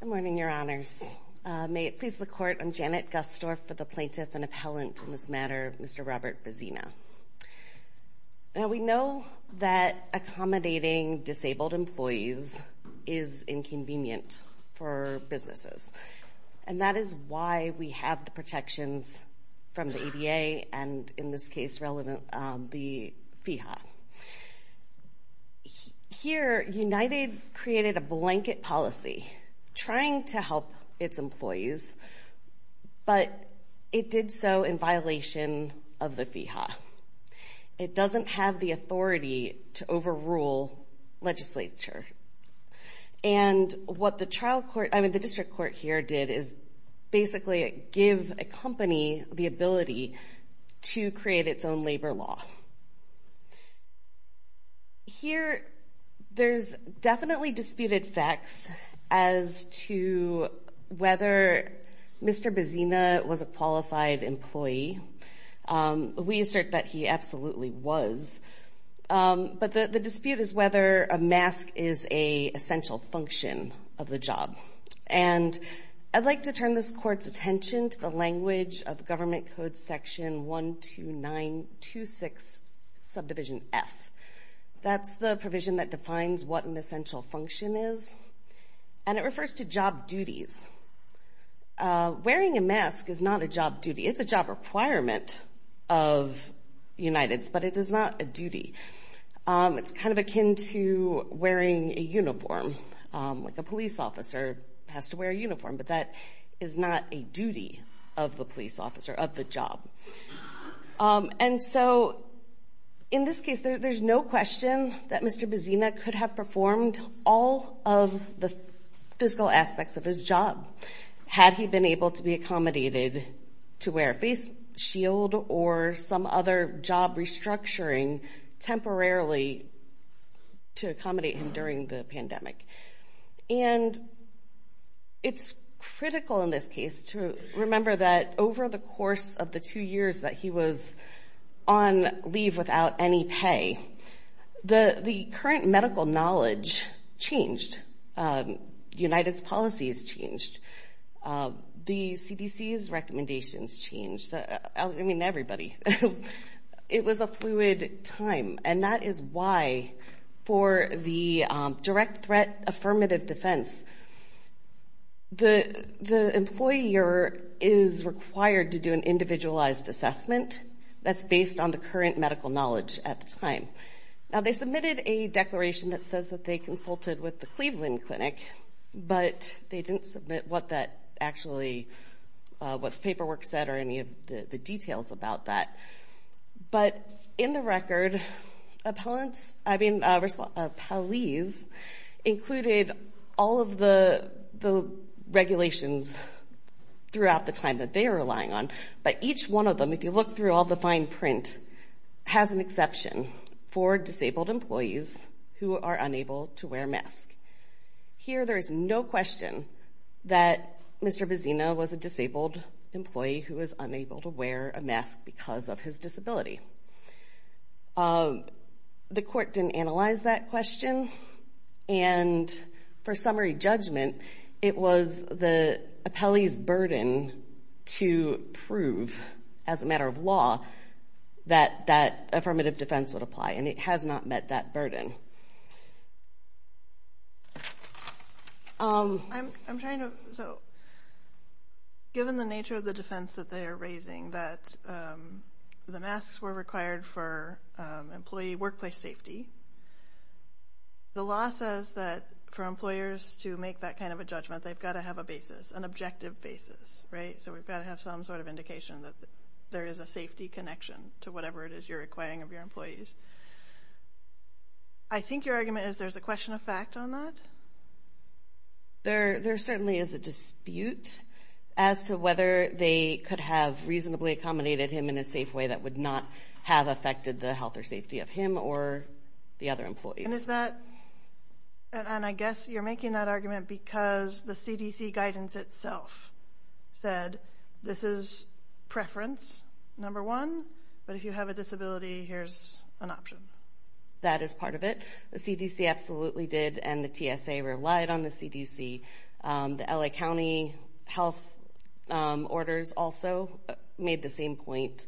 Good morning, Your Honors. May it please the Court, I'm Janet Gusdorf for the Plaintiff and Appellant in this matter, Mr. Robert Bezzina. Now, we know that accommodating disabled employees is inconvenient for businesses. And that is why we have the protections from the ADA and, in this case, relevant, the FIHA. Here, United created a blanket policy trying to help its employees, but it did so in violation of the FIHA. It doesn't have the authority to overrule legislature. And what the district court here did is basically give a company the ability to create its own labor law. Here, there's definitely disputed facts as to whether Mr. Bezzina was a qualified employee. We assert that he absolutely was. But the dispute is whether a mask is an essential function of the job. And I'd like to turn this Court's attention to the language of Government Code Section 12926, subdivision F. That's the provision that defines what an essential function is, and it refers to job duties. Wearing a mask is not a job duty. It's a job requirement of United's, but it is not a duty. It's kind of akin to wearing a uniform, like a police officer has to wear a uniform, but that is not a duty of the police officer, of the job. And so, in this case, there's no question that Mr. Bezzina could have performed all of the physical aspects of his job had he been able to be accommodated to wear a face shield or some other job restructuring temporarily to accommodate him during the pandemic. And it's critical in this case to remember that over the course of the two years that he was on leave without any pay, the current medical knowledge changed. United's policies changed. The CDC's recommendations changed. I mean, everybody. It was a fluid time. And that is why, for the direct threat affirmative defense, the employer is required to do an individualized assessment that's based on the current medical knowledge at the time. Now, they submitted a declaration that says that they consulted with the Cleveland Clinic, but they didn't submit what that actually, what the paperwork said or any of the details about that. But in the record, appellants, I mean, police included all of the regulations throughout the time that they were relying on. But each one of them, if you look through all the fine print, has an exception for disabled employees who are unable to wear a mask. Here, there is no question that Mr. Bezina was a disabled employee who was unable to wear a mask because of his disability. The court didn't analyze that question. And for summary judgment, it was the appellee's burden to prove, as a matter of law, that that affirmative defense would apply. And it has not met that burden. I'm trying to – so given the nature of the defense that they are raising, that the masks were required for employee workplace safety, the law says that for employers to make that kind of a judgment, they've got to have a basis, an objective basis, right? So we've got to have some sort of indication that there is a safety connection to whatever it is you're requiring of your employees. I think your argument is there's a question of fact on that? There certainly is a dispute as to whether they could have reasonably accommodated him in a safe way that would not have affected the health or safety of him or the other employees. And is that – and I guess you're making that argument because the CDC guidance itself said this is preference, number one, but if you have a disability, here's an option. That is part of it. The CDC absolutely did, and the TSA relied on the CDC. The L.A. County health orders also made the same point.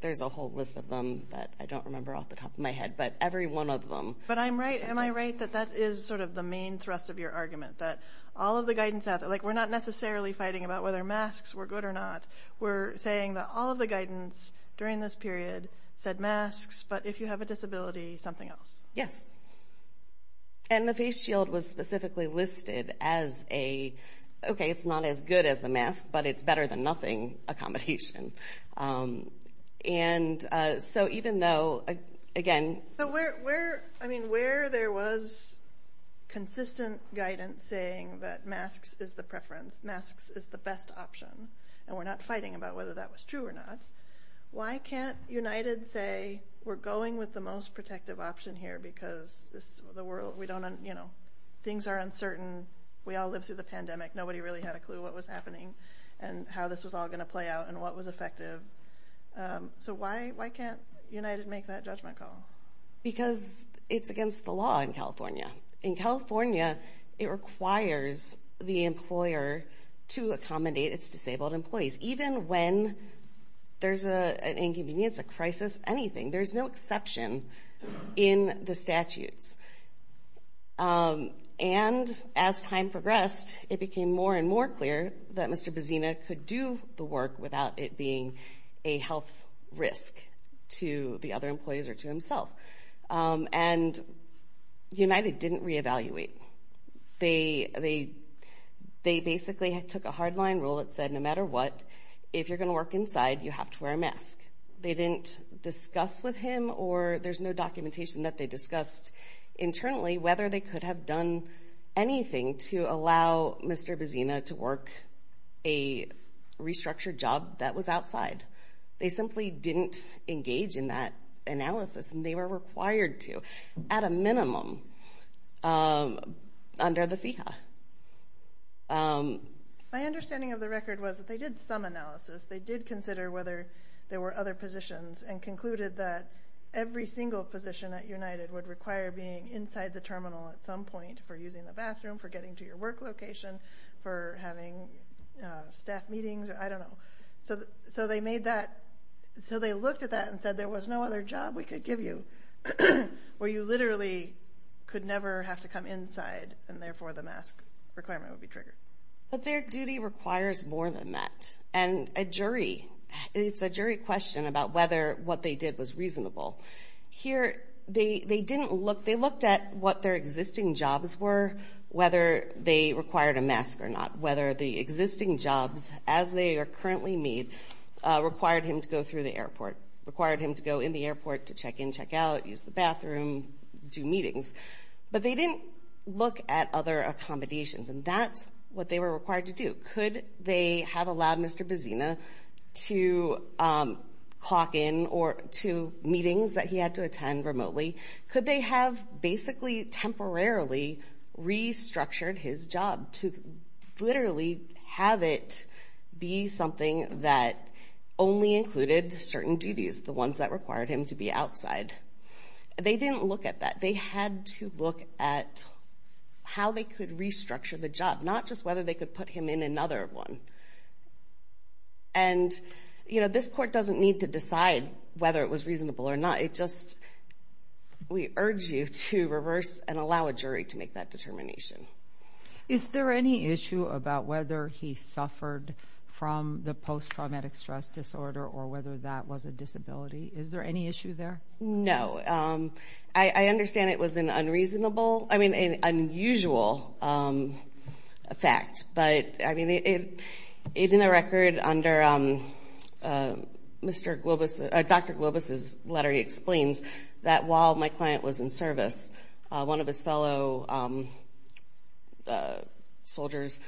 There's a whole list of them that I don't remember off the top of my head, but every one of them. But I'm right – am I right that that is sort of the main thrust of your argument, that all of the guidance – like we're not necessarily fighting about whether masks were good or not. We're saying that all of the guidance during this period said masks, but if you have a disability, something else. Yes. And the face shield was specifically listed as a, okay, it's not as good as the mask, but it's better than nothing accommodation. And so even though, again – So where – I mean, where there was consistent guidance saying that masks is the preference, masks is the best option, and we're not fighting about whether that was true or not, why can't United say we're going with the most protective option here because the world – we don't – you know, things are uncertain. We all lived through the pandemic. Nobody really had a clue what was happening and how this was all going to play out and what was effective. So why can't United make that judgment call? Because it's against the law in California. In California, it requires the employer to accommodate its disabled employees. Even when there's an inconvenience, a crisis, anything, there's no exception in the statutes. And as time progressed, it became more and more clear that Mr. Bazzina could do the work without it being a health risk to the other employees or to himself. And United didn't reevaluate. They basically took a hardline rule that said no matter what, if you're going to work inside, you have to wear a mask. They didn't discuss with him, or there's no documentation that they discussed internally, whether they could have done anything to allow Mr. Bazzina to work a restructured job that was outside. They simply didn't engage in that analysis, and they were required to at a minimum. My understanding of the record was that they did some analysis. They did consider whether there were other positions and concluded that every single position at United would require being inside the terminal at some point for using the bathroom, for getting to your work location, for having staff meetings. I don't know. So they looked at that and said there was no other job we could give you where you literally could never have to come inside, and therefore the mask requirement would be triggered. But their duty requires more than that. And a jury, it's a jury question about whether what they did was reasonable. Here they didn't look. They looked at what their existing jobs were, whether they required a mask or not, whether the existing jobs as they are currently made required him to go through the airport, required him to go in the airport to check in, check out, use the bathroom, do meetings. But they didn't look at other accommodations, and that's what they were required to do. Could they have allowed Mr. Bazzina to clock in to meetings that he had to attend remotely? Could they have basically temporarily restructured his job to literally have it be something that only included certain duties, the ones that required him to be outside? They didn't look at that. They had to look at how they could restructure the job, not just whether they could put him in another one. And, you know, this court doesn't need to decide whether it was reasonable or not. It just, we urge you to reverse and allow a jury to make that determination. Is there any issue about whether he suffered from the post-traumatic stress disorder or whether that was a disability? Is there any issue there? No. I understand it was an unreasonable, I mean, an unusual fact. But, I mean, in the record under Dr. Globus' letter, he explains that while my client was in service, one of his fellow soldiers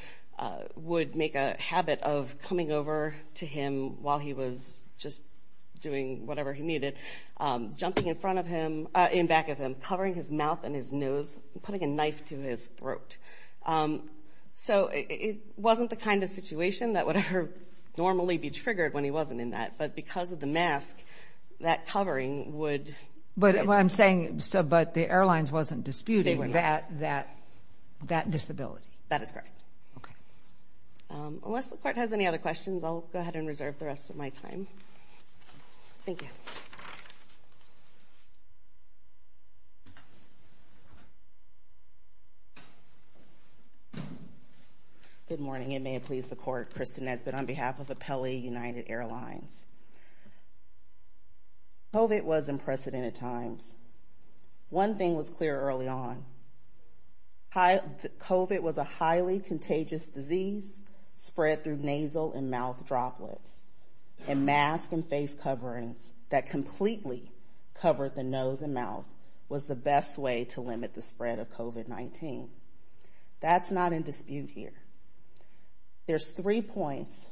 would make a habit of coming over to him while he was just doing whatever he needed, jumping in front of him, in back of him, covering his mouth and his nose, putting a knife to his throat. So it wasn't the kind of situation that would normally be triggered when he wasn't in that. But because of the mask, that covering would... But I'm saying, but the airlines wasn't disputing that disability. That is correct. Okay. Unless the court has any other questions, I'll go ahead and reserve the rest of my time. Thank you. Good morning. It may have pleased the court, Kristen Nesbitt, on behalf of Apelli United Airlines. COVID was in precedented times. One thing was clear early on. COVID was a highly contagious disease spread through nasal and mouth droplets. And mask and face coverings that completely covered the nose and mouth was the best way to limit the spread of COVID-19. That's not in dispute here. There's three points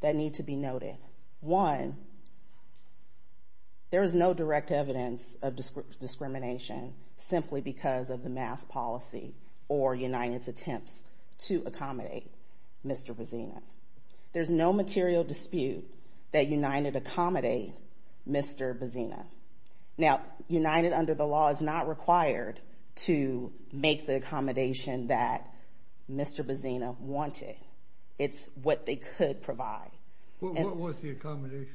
that need to be noted. One, there is no direct evidence of discrimination simply because of the mask policy or United's attempts to accommodate Mr. Bazzina. There's no material dispute that United accommodate Mr. Bazzina. Now, United, under the law, is not required to make the accommodation that Mr. Bazzina wanted. It's what they could provide. What was the accommodation?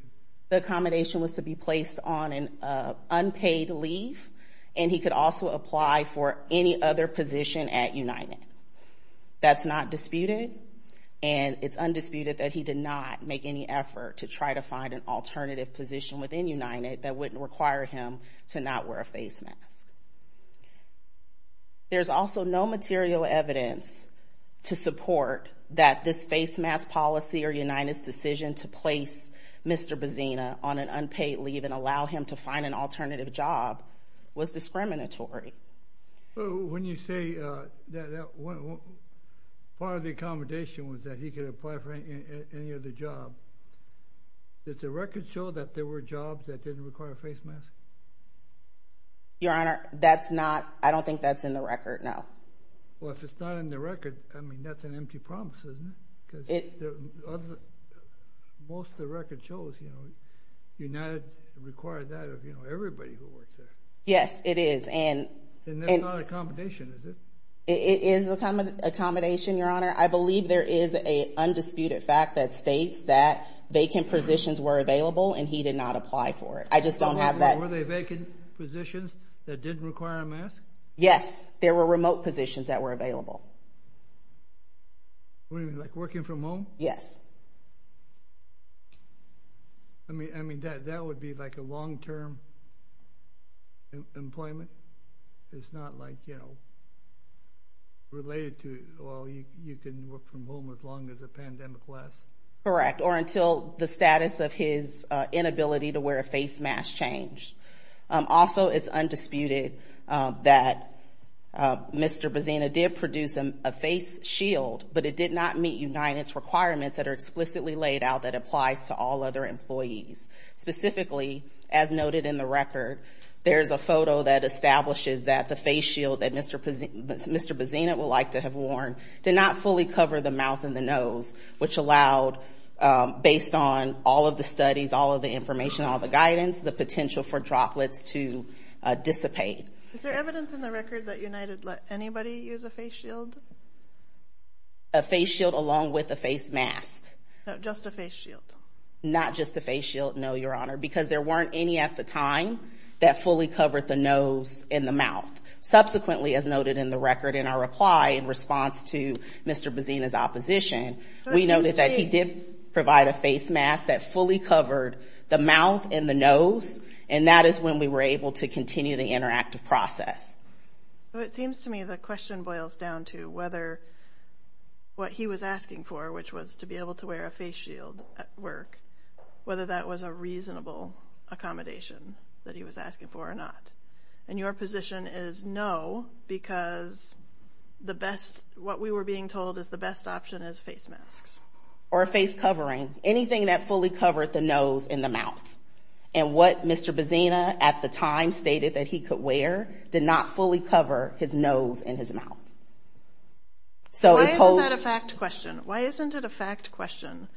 The accommodation was to be placed on an unpaid leave, and he could also apply for any other position at United. That's not disputed, and it's undisputed that he did not make any effort to try to find an alternative position within United that wouldn't require him to not wear a face mask. There's also no material evidence to support that this face mask policy or United's decision to place Mr. Bazzina on an unpaid leave and allow him to find an alternative job was discriminatory. When you say that part of the accommodation was that he could apply for any other job, does the record show that there were jobs that didn't require a face mask? Your Honor, that's not—I don't think that's in the record, no. Well, if it's not in the record, I mean, that's an empty promise, isn't it? Because most of the record shows United required that of everybody who worked there. Yes, it is. And that's not an accommodation, is it? It is an accommodation, Your Honor. I believe there is an undisputed fact that states that vacant positions were available, and he did not apply for it. I just don't have that— Were there vacant positions that didn't require a mask? Yes, there were remote positions that were available. What do you mean, like working from home? Yes. I mean, that would be like a long-term employment. It's not like, you know, related to, well, you can work from home as long as the pandemic lasts. Correct, or until the status of his inability to wear a face mask changed. Also, it's undisputed that Mr. Bazzina did produce a face shield, but it did not meet United's requirements that are explicitly laid out that applies to all other employees. Specifically, as noted in the record, there's a photo that establishes that the face shield that Mr. Bazzina would like to have worn did not fully cover the mouth and the nose, which allowed, based on all of the studies, all of the information, all of the guidance, the potential for droplets to dissipate. Is there evidence in the record that United let anybody use a face shield? A face shield along with a face mask. No, just a face shield. Not just a face shield, no, Your Honor, because there weren't any at the time that fully covered the nose and the mouth. Subsequently, as noted in the record in our reply in response to Mr. Bazzina's opposition, we noted that he did provide a face mask that fully covered the mouth and the nose, and that is when we were able to continue the interactive process. It seems to me the question boils down to whether what he was asking for, which was to be able to wear a face shield at work, whether that was a reasonable accommodation that he was asking for or not. And your position is no, because what we were being told is the best option is face masks. Or a face covering, anything that fully covered the nose and the mouth. And what Mr. Bazzina at the time stated that he could wear did not fully cover his nose and his mouth. Why isn't that a fact question? Why isn't it a fact question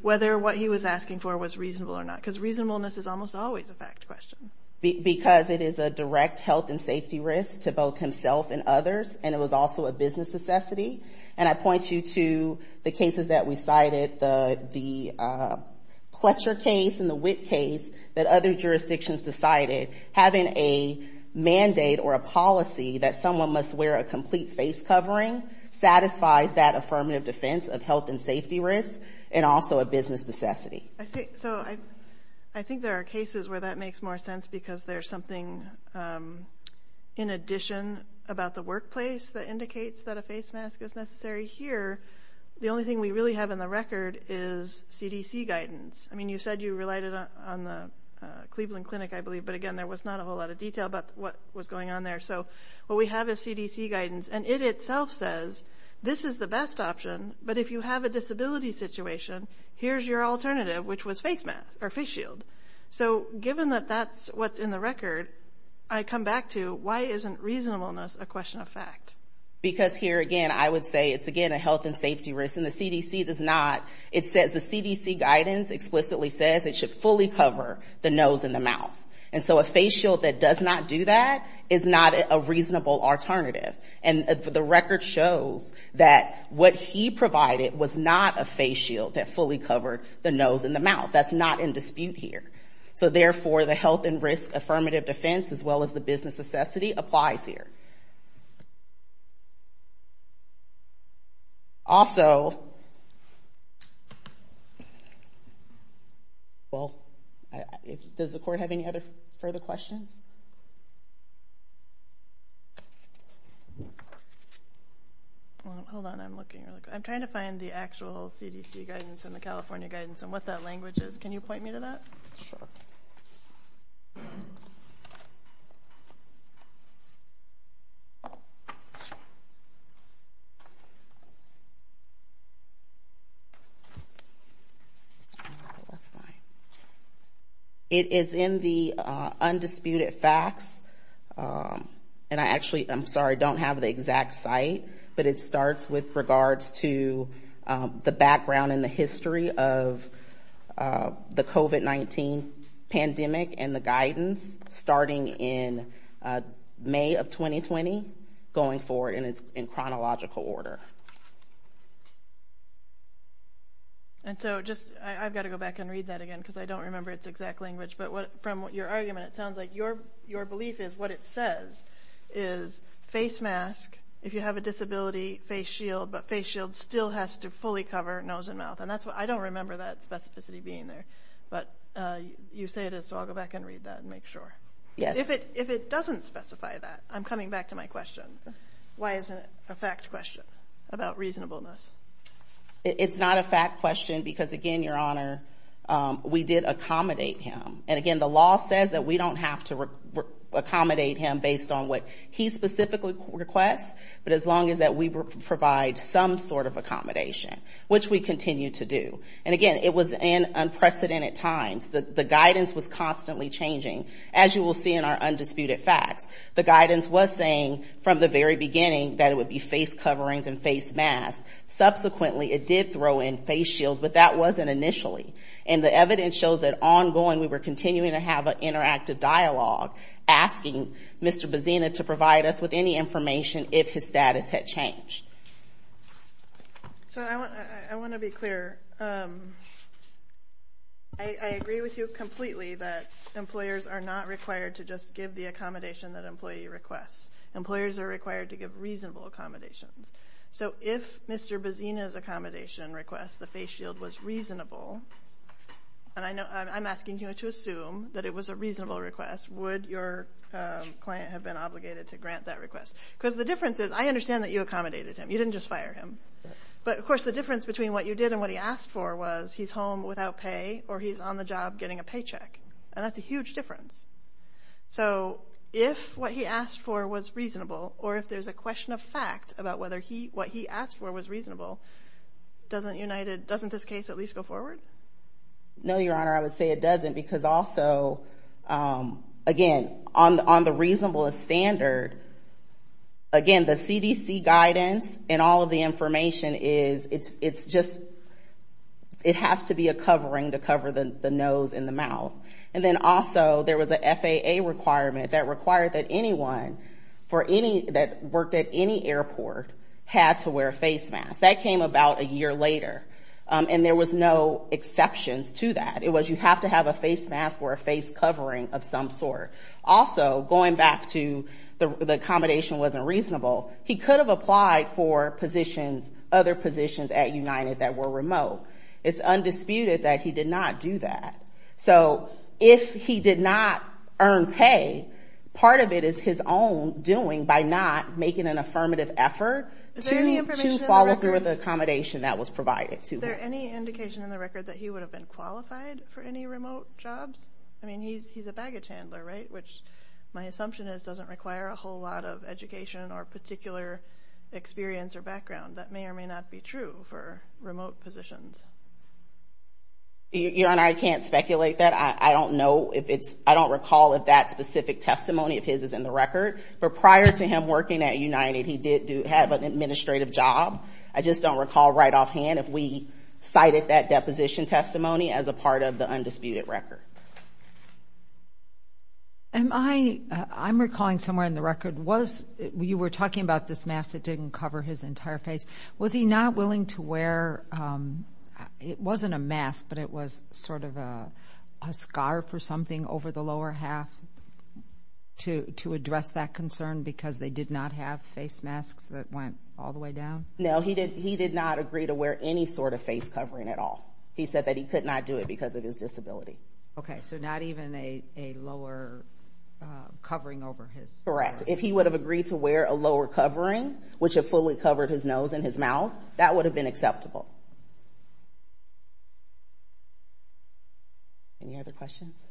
whether what he was asking for was reasonable or not? Because reasonableness is almost always a fact question. Because it is a direct health and safety risk to both himself and others, and it was also a business necessity. And I point you to the cases that we cited, the Pletcher case and the Witt case, that other jurisdictions decided having a mandate or a policy that someone must wear a complete face covering satisfies that affirmative defense of health and safety risks and also a business necessity. So I think there are cases where that makes more sense because there's something in addition about the workplace that indicates that a face mask is necessary here. The only thing we really have in the record is CDC guidance. I mean, you said you relied on the Cleveland Clinic, I believe, but, again, there was not a whole lot of detail about what was going on there. So what we have is CDC guidance, and it itself says this is the best option, but if you have a disability situation, here's your alternative, which was face shield. So given that that's what's in the record, I come back to why isn't reasonableness a question of fact? Because here, again, I would say it's, again, a health and safety risk, and the CDC does not. It says the CDC guidance explicitly says it should fully cover the nose and the mouth. And so a face shield that does not do that is not a reasonable alternative. And the record shows that what he provided was not a face shield that fully covered the nose and the mouth. That's not in dispute here. So, therefore, the health and risk affirmative defense, as well as the business necessity, applies here. Also, well, does the court have any other further questions? Hold on, I'm looking. I'm trying to find the actual CDC guidance and the California guidance and what that language is. Can you point me to that? Sure. It is in the undisputed facts, and I actually, I'm sorry, don't have the exact site, but it starts with regards to the background and the history of the COVID-19 pandemic and the guidance starting in May of 2020, going forward, and it's in chronological order. And so just, I've got to go back and read that again because I don't remember its exact language, but from your argument, it sounds like your belief is what it says is face mask if you have a disability, face shield, but face shield still has to fully cover nose and mouth. And that's what, I don't remember that specificity being there, but you say it is, so I'll go back and read that and make sure. Yes. If it doesn't specify that, I'm coming back to my question. Why isn't it a fact question about reasonableness? It's not a fact question because, again, Your Honor, we did accommodate him. And, again, the law says that we don't have to accommodate him based on what he specifically requests, but as long as that we provide some sort of accommodation, which we continue to do. And, again, it was in unprecedented times. The guidance was constantly changing, as you will see in our undisputed facts. The guidance was saying from the very beginning that it would be face coverings and face masks. Subsequently, it did throw in face shields, but that wasn't initially. And the evidence shows that ongoing, we were continuing to have an interactive dialogue, asking Mr. Bazzina to provide us with any information if his status had changed. So I want to be clear. I agree with you completely that employers are not required to just give the accommodation that an employee requests. Employers are required to give reasonable accommodations. So if Mr. Bazzina's accommodation request, the face shield, was reasonable, and I'm asking you to assume that it was a reasonable request, would your client have been obligated to grant that request? Because the difference is I understand that you accommodated him. You didn't just fire him. But, of course, the difference between what you did and what he asked for was he's home without pay or he's on the job getting a paycheck, and that's a huge difference. So if what he asked for was reasonable or if there's a question of fact about what he asked for was reasonable, doesn't this case at least go forward? No, Your Honor. I would say it doesn't because also, again, on the reasonablest standard, again, the CDC guidance and all of the information is it's just it has to be a covering to cover the nose and the mouth. And then also there was an FAA requirement that required that anyone that worked at any airport had to wear a face mask. That came about a year later, and there was no exceptions to that. It was you have to have a face mask or a face covering of some sort. Also, going back to the accommodation wasn't reasonable, he could have applied for positions, other positions at United that were remote. It's undisputed that he did not do that. So if he did not earn pay, part of it is his own doing by not making an affirmative effort to follow through with the accommodation that was provided to him. Is there any indication in the record that he would have been qualified for any remote jobs? I mean, he's a baggage handler, right, which my assumption is doesn't require a whole lot of education or particular experience or background. That may or may not be true for remote positions. Your Honor, I can't speculate that. I don't know if it's – I don't recall if that specific testimony of his is in the record. But prior to him working at United, he did have an administrative job. I just don't recall right offhand if we cited that deposition testimony as a part of the undisputed record. I'm recalling somewhere in the record, you were talking about this mask that didn't cover his entire face. Was he not willing to wear – it wasn't a mask, but it was sort of a scarf or something over the lower half to address that concern because they did not have face masks that went all the way down? No, he did not agree to wear any sort of face covering at all. He said that he could not do it because of his disability. Okay, so not even a lower covering over his face. Correct. If he would have agreed to wear a lower covering, which would have fully covered his nose and his mouth, that would have been acceptable. Any other questions?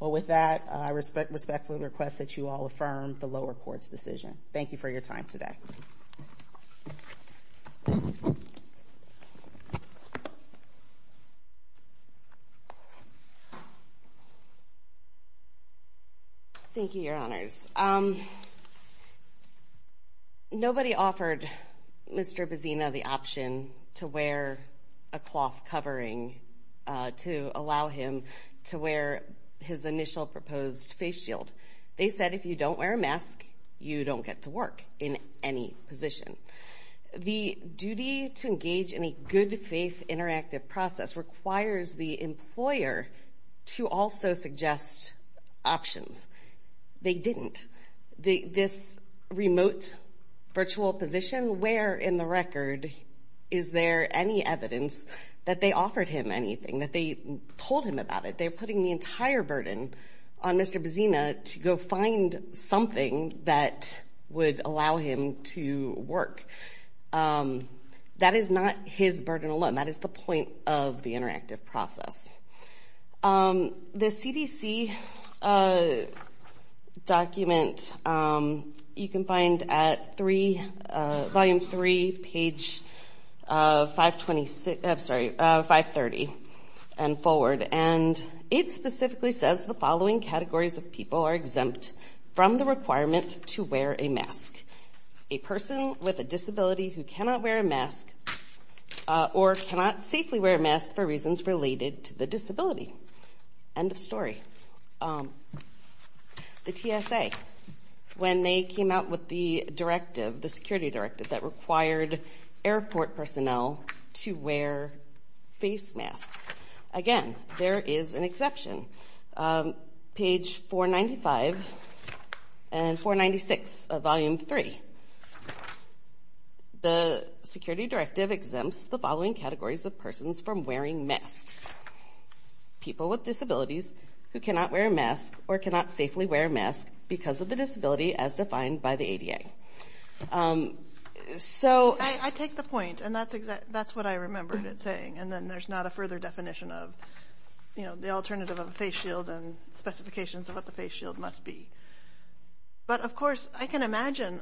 Well, with that, I respectfully request that you all affirm the lower court's decision. Thank you for your time today. Thank you, Your Honors. Nobody offered Mr. Bazzina the option to wear a cloth covering to allow him to wear his initial proposed face shield. They said if you don't wear a mask, you don't get to work in any position. The duty to engage in a good-faith interactive process requires the employer to also suggest options. They didn't. This remote virtual position, where in the record is there any evidence that they offered him anything, that they told him about it? They're putting the entire burden on Mr. Bazzina to go find something that would allow him to work. That is not his burden alone. That is the point of the interactive process. The CDC document you can find at Volume 3, page 530 and forward. And it specifically says the following categories of people are exempt from the requirement to wear a mask. A person with a disability who cannot wear a mask or cannot safely wear a mask for reasons related to the disability. End of story. The TSA, when they came out with the directive, the security directive that required airport personnel to wear face masks. Again, there is an exception. Page 495 and 496 of Volume 3. The security directive exempts the following categories of persons from wearing masks. People with disabilities who cannot wear a mask or cannot safely wear a mask because of the disability as defined by the ADA. So I take the point. And that's what I remembered it saying. And then there's not a further definition of, you know, the alternative of a face shield and specifications of what the face shield must be. But, of course, I can imagine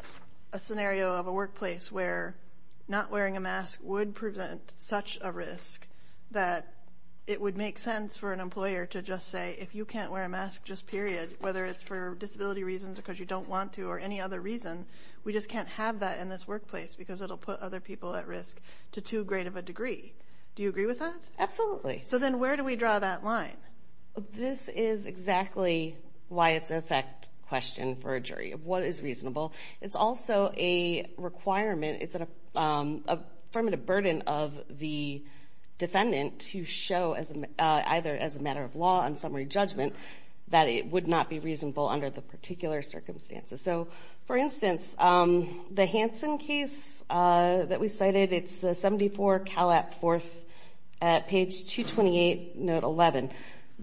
a scenario of a workplace where not wearing a mask would present such a risk that it would make sense for an employer to just say, if you can't wear a mask, just period, whether it's for disability reasons or because you don't want to or any other reason, we just can't have that in this workplace because it'll put other people at risk to too great of a degree. Do you agree with that? Absolutely. So then where do we draw that line? This is exactly why it's an effect question for a jury of what is reasonable. It's also a requirement. It's an affirmative burden of the defendant to show either as a matter of law and summary judgment that it would not be reasonable under the particular circumstances. So, for instance, the Hansen case that we cited, it's the 74 Calat 4th at page 228, note 11,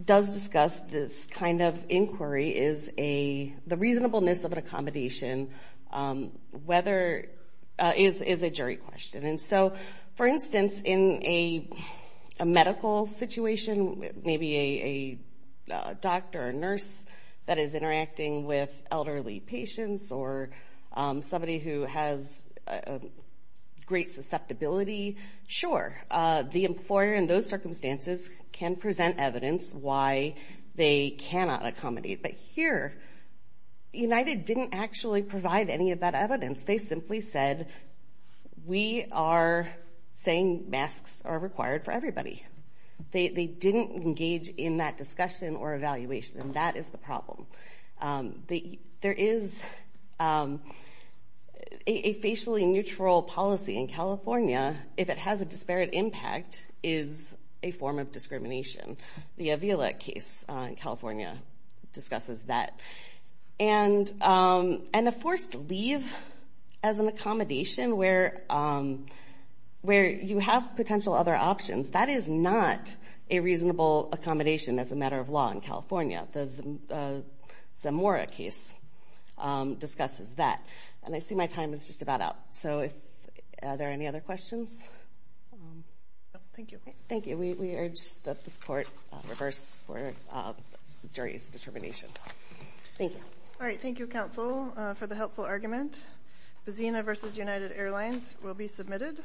does discuss this kind of inquiry is the reasonableness of an accommodation is a jury question. And so, for instance, in a medical situation, maybe a doctor or nurse that is interacting with elderly patients or somebody who has great susceptibility, sure, the employer in those circumstances can present evidence why they cannot accommodate. But here, United didn't actually provide any of that evidence. They simply said, we are saying masks are required for everybody. They didn't engage in that discussion or evaluation. And that is the problem. There is a facially neutral policy in California. If it has a disparate impact is a form of discrimination. The Avila case in California discusses that. And a forced leave as an accommodation where you have potential other options, that is not a reasonable accommodation as a matter of law in California. The Zamora case discusses that. And I see my time is just about up. So are there any other questions? Thank you. Thank you. We urge that this court reverse for jury's determination. Thank you. All right. Thank you, counsel, for the helpful argument. Busina versus United Airlines will be submitted.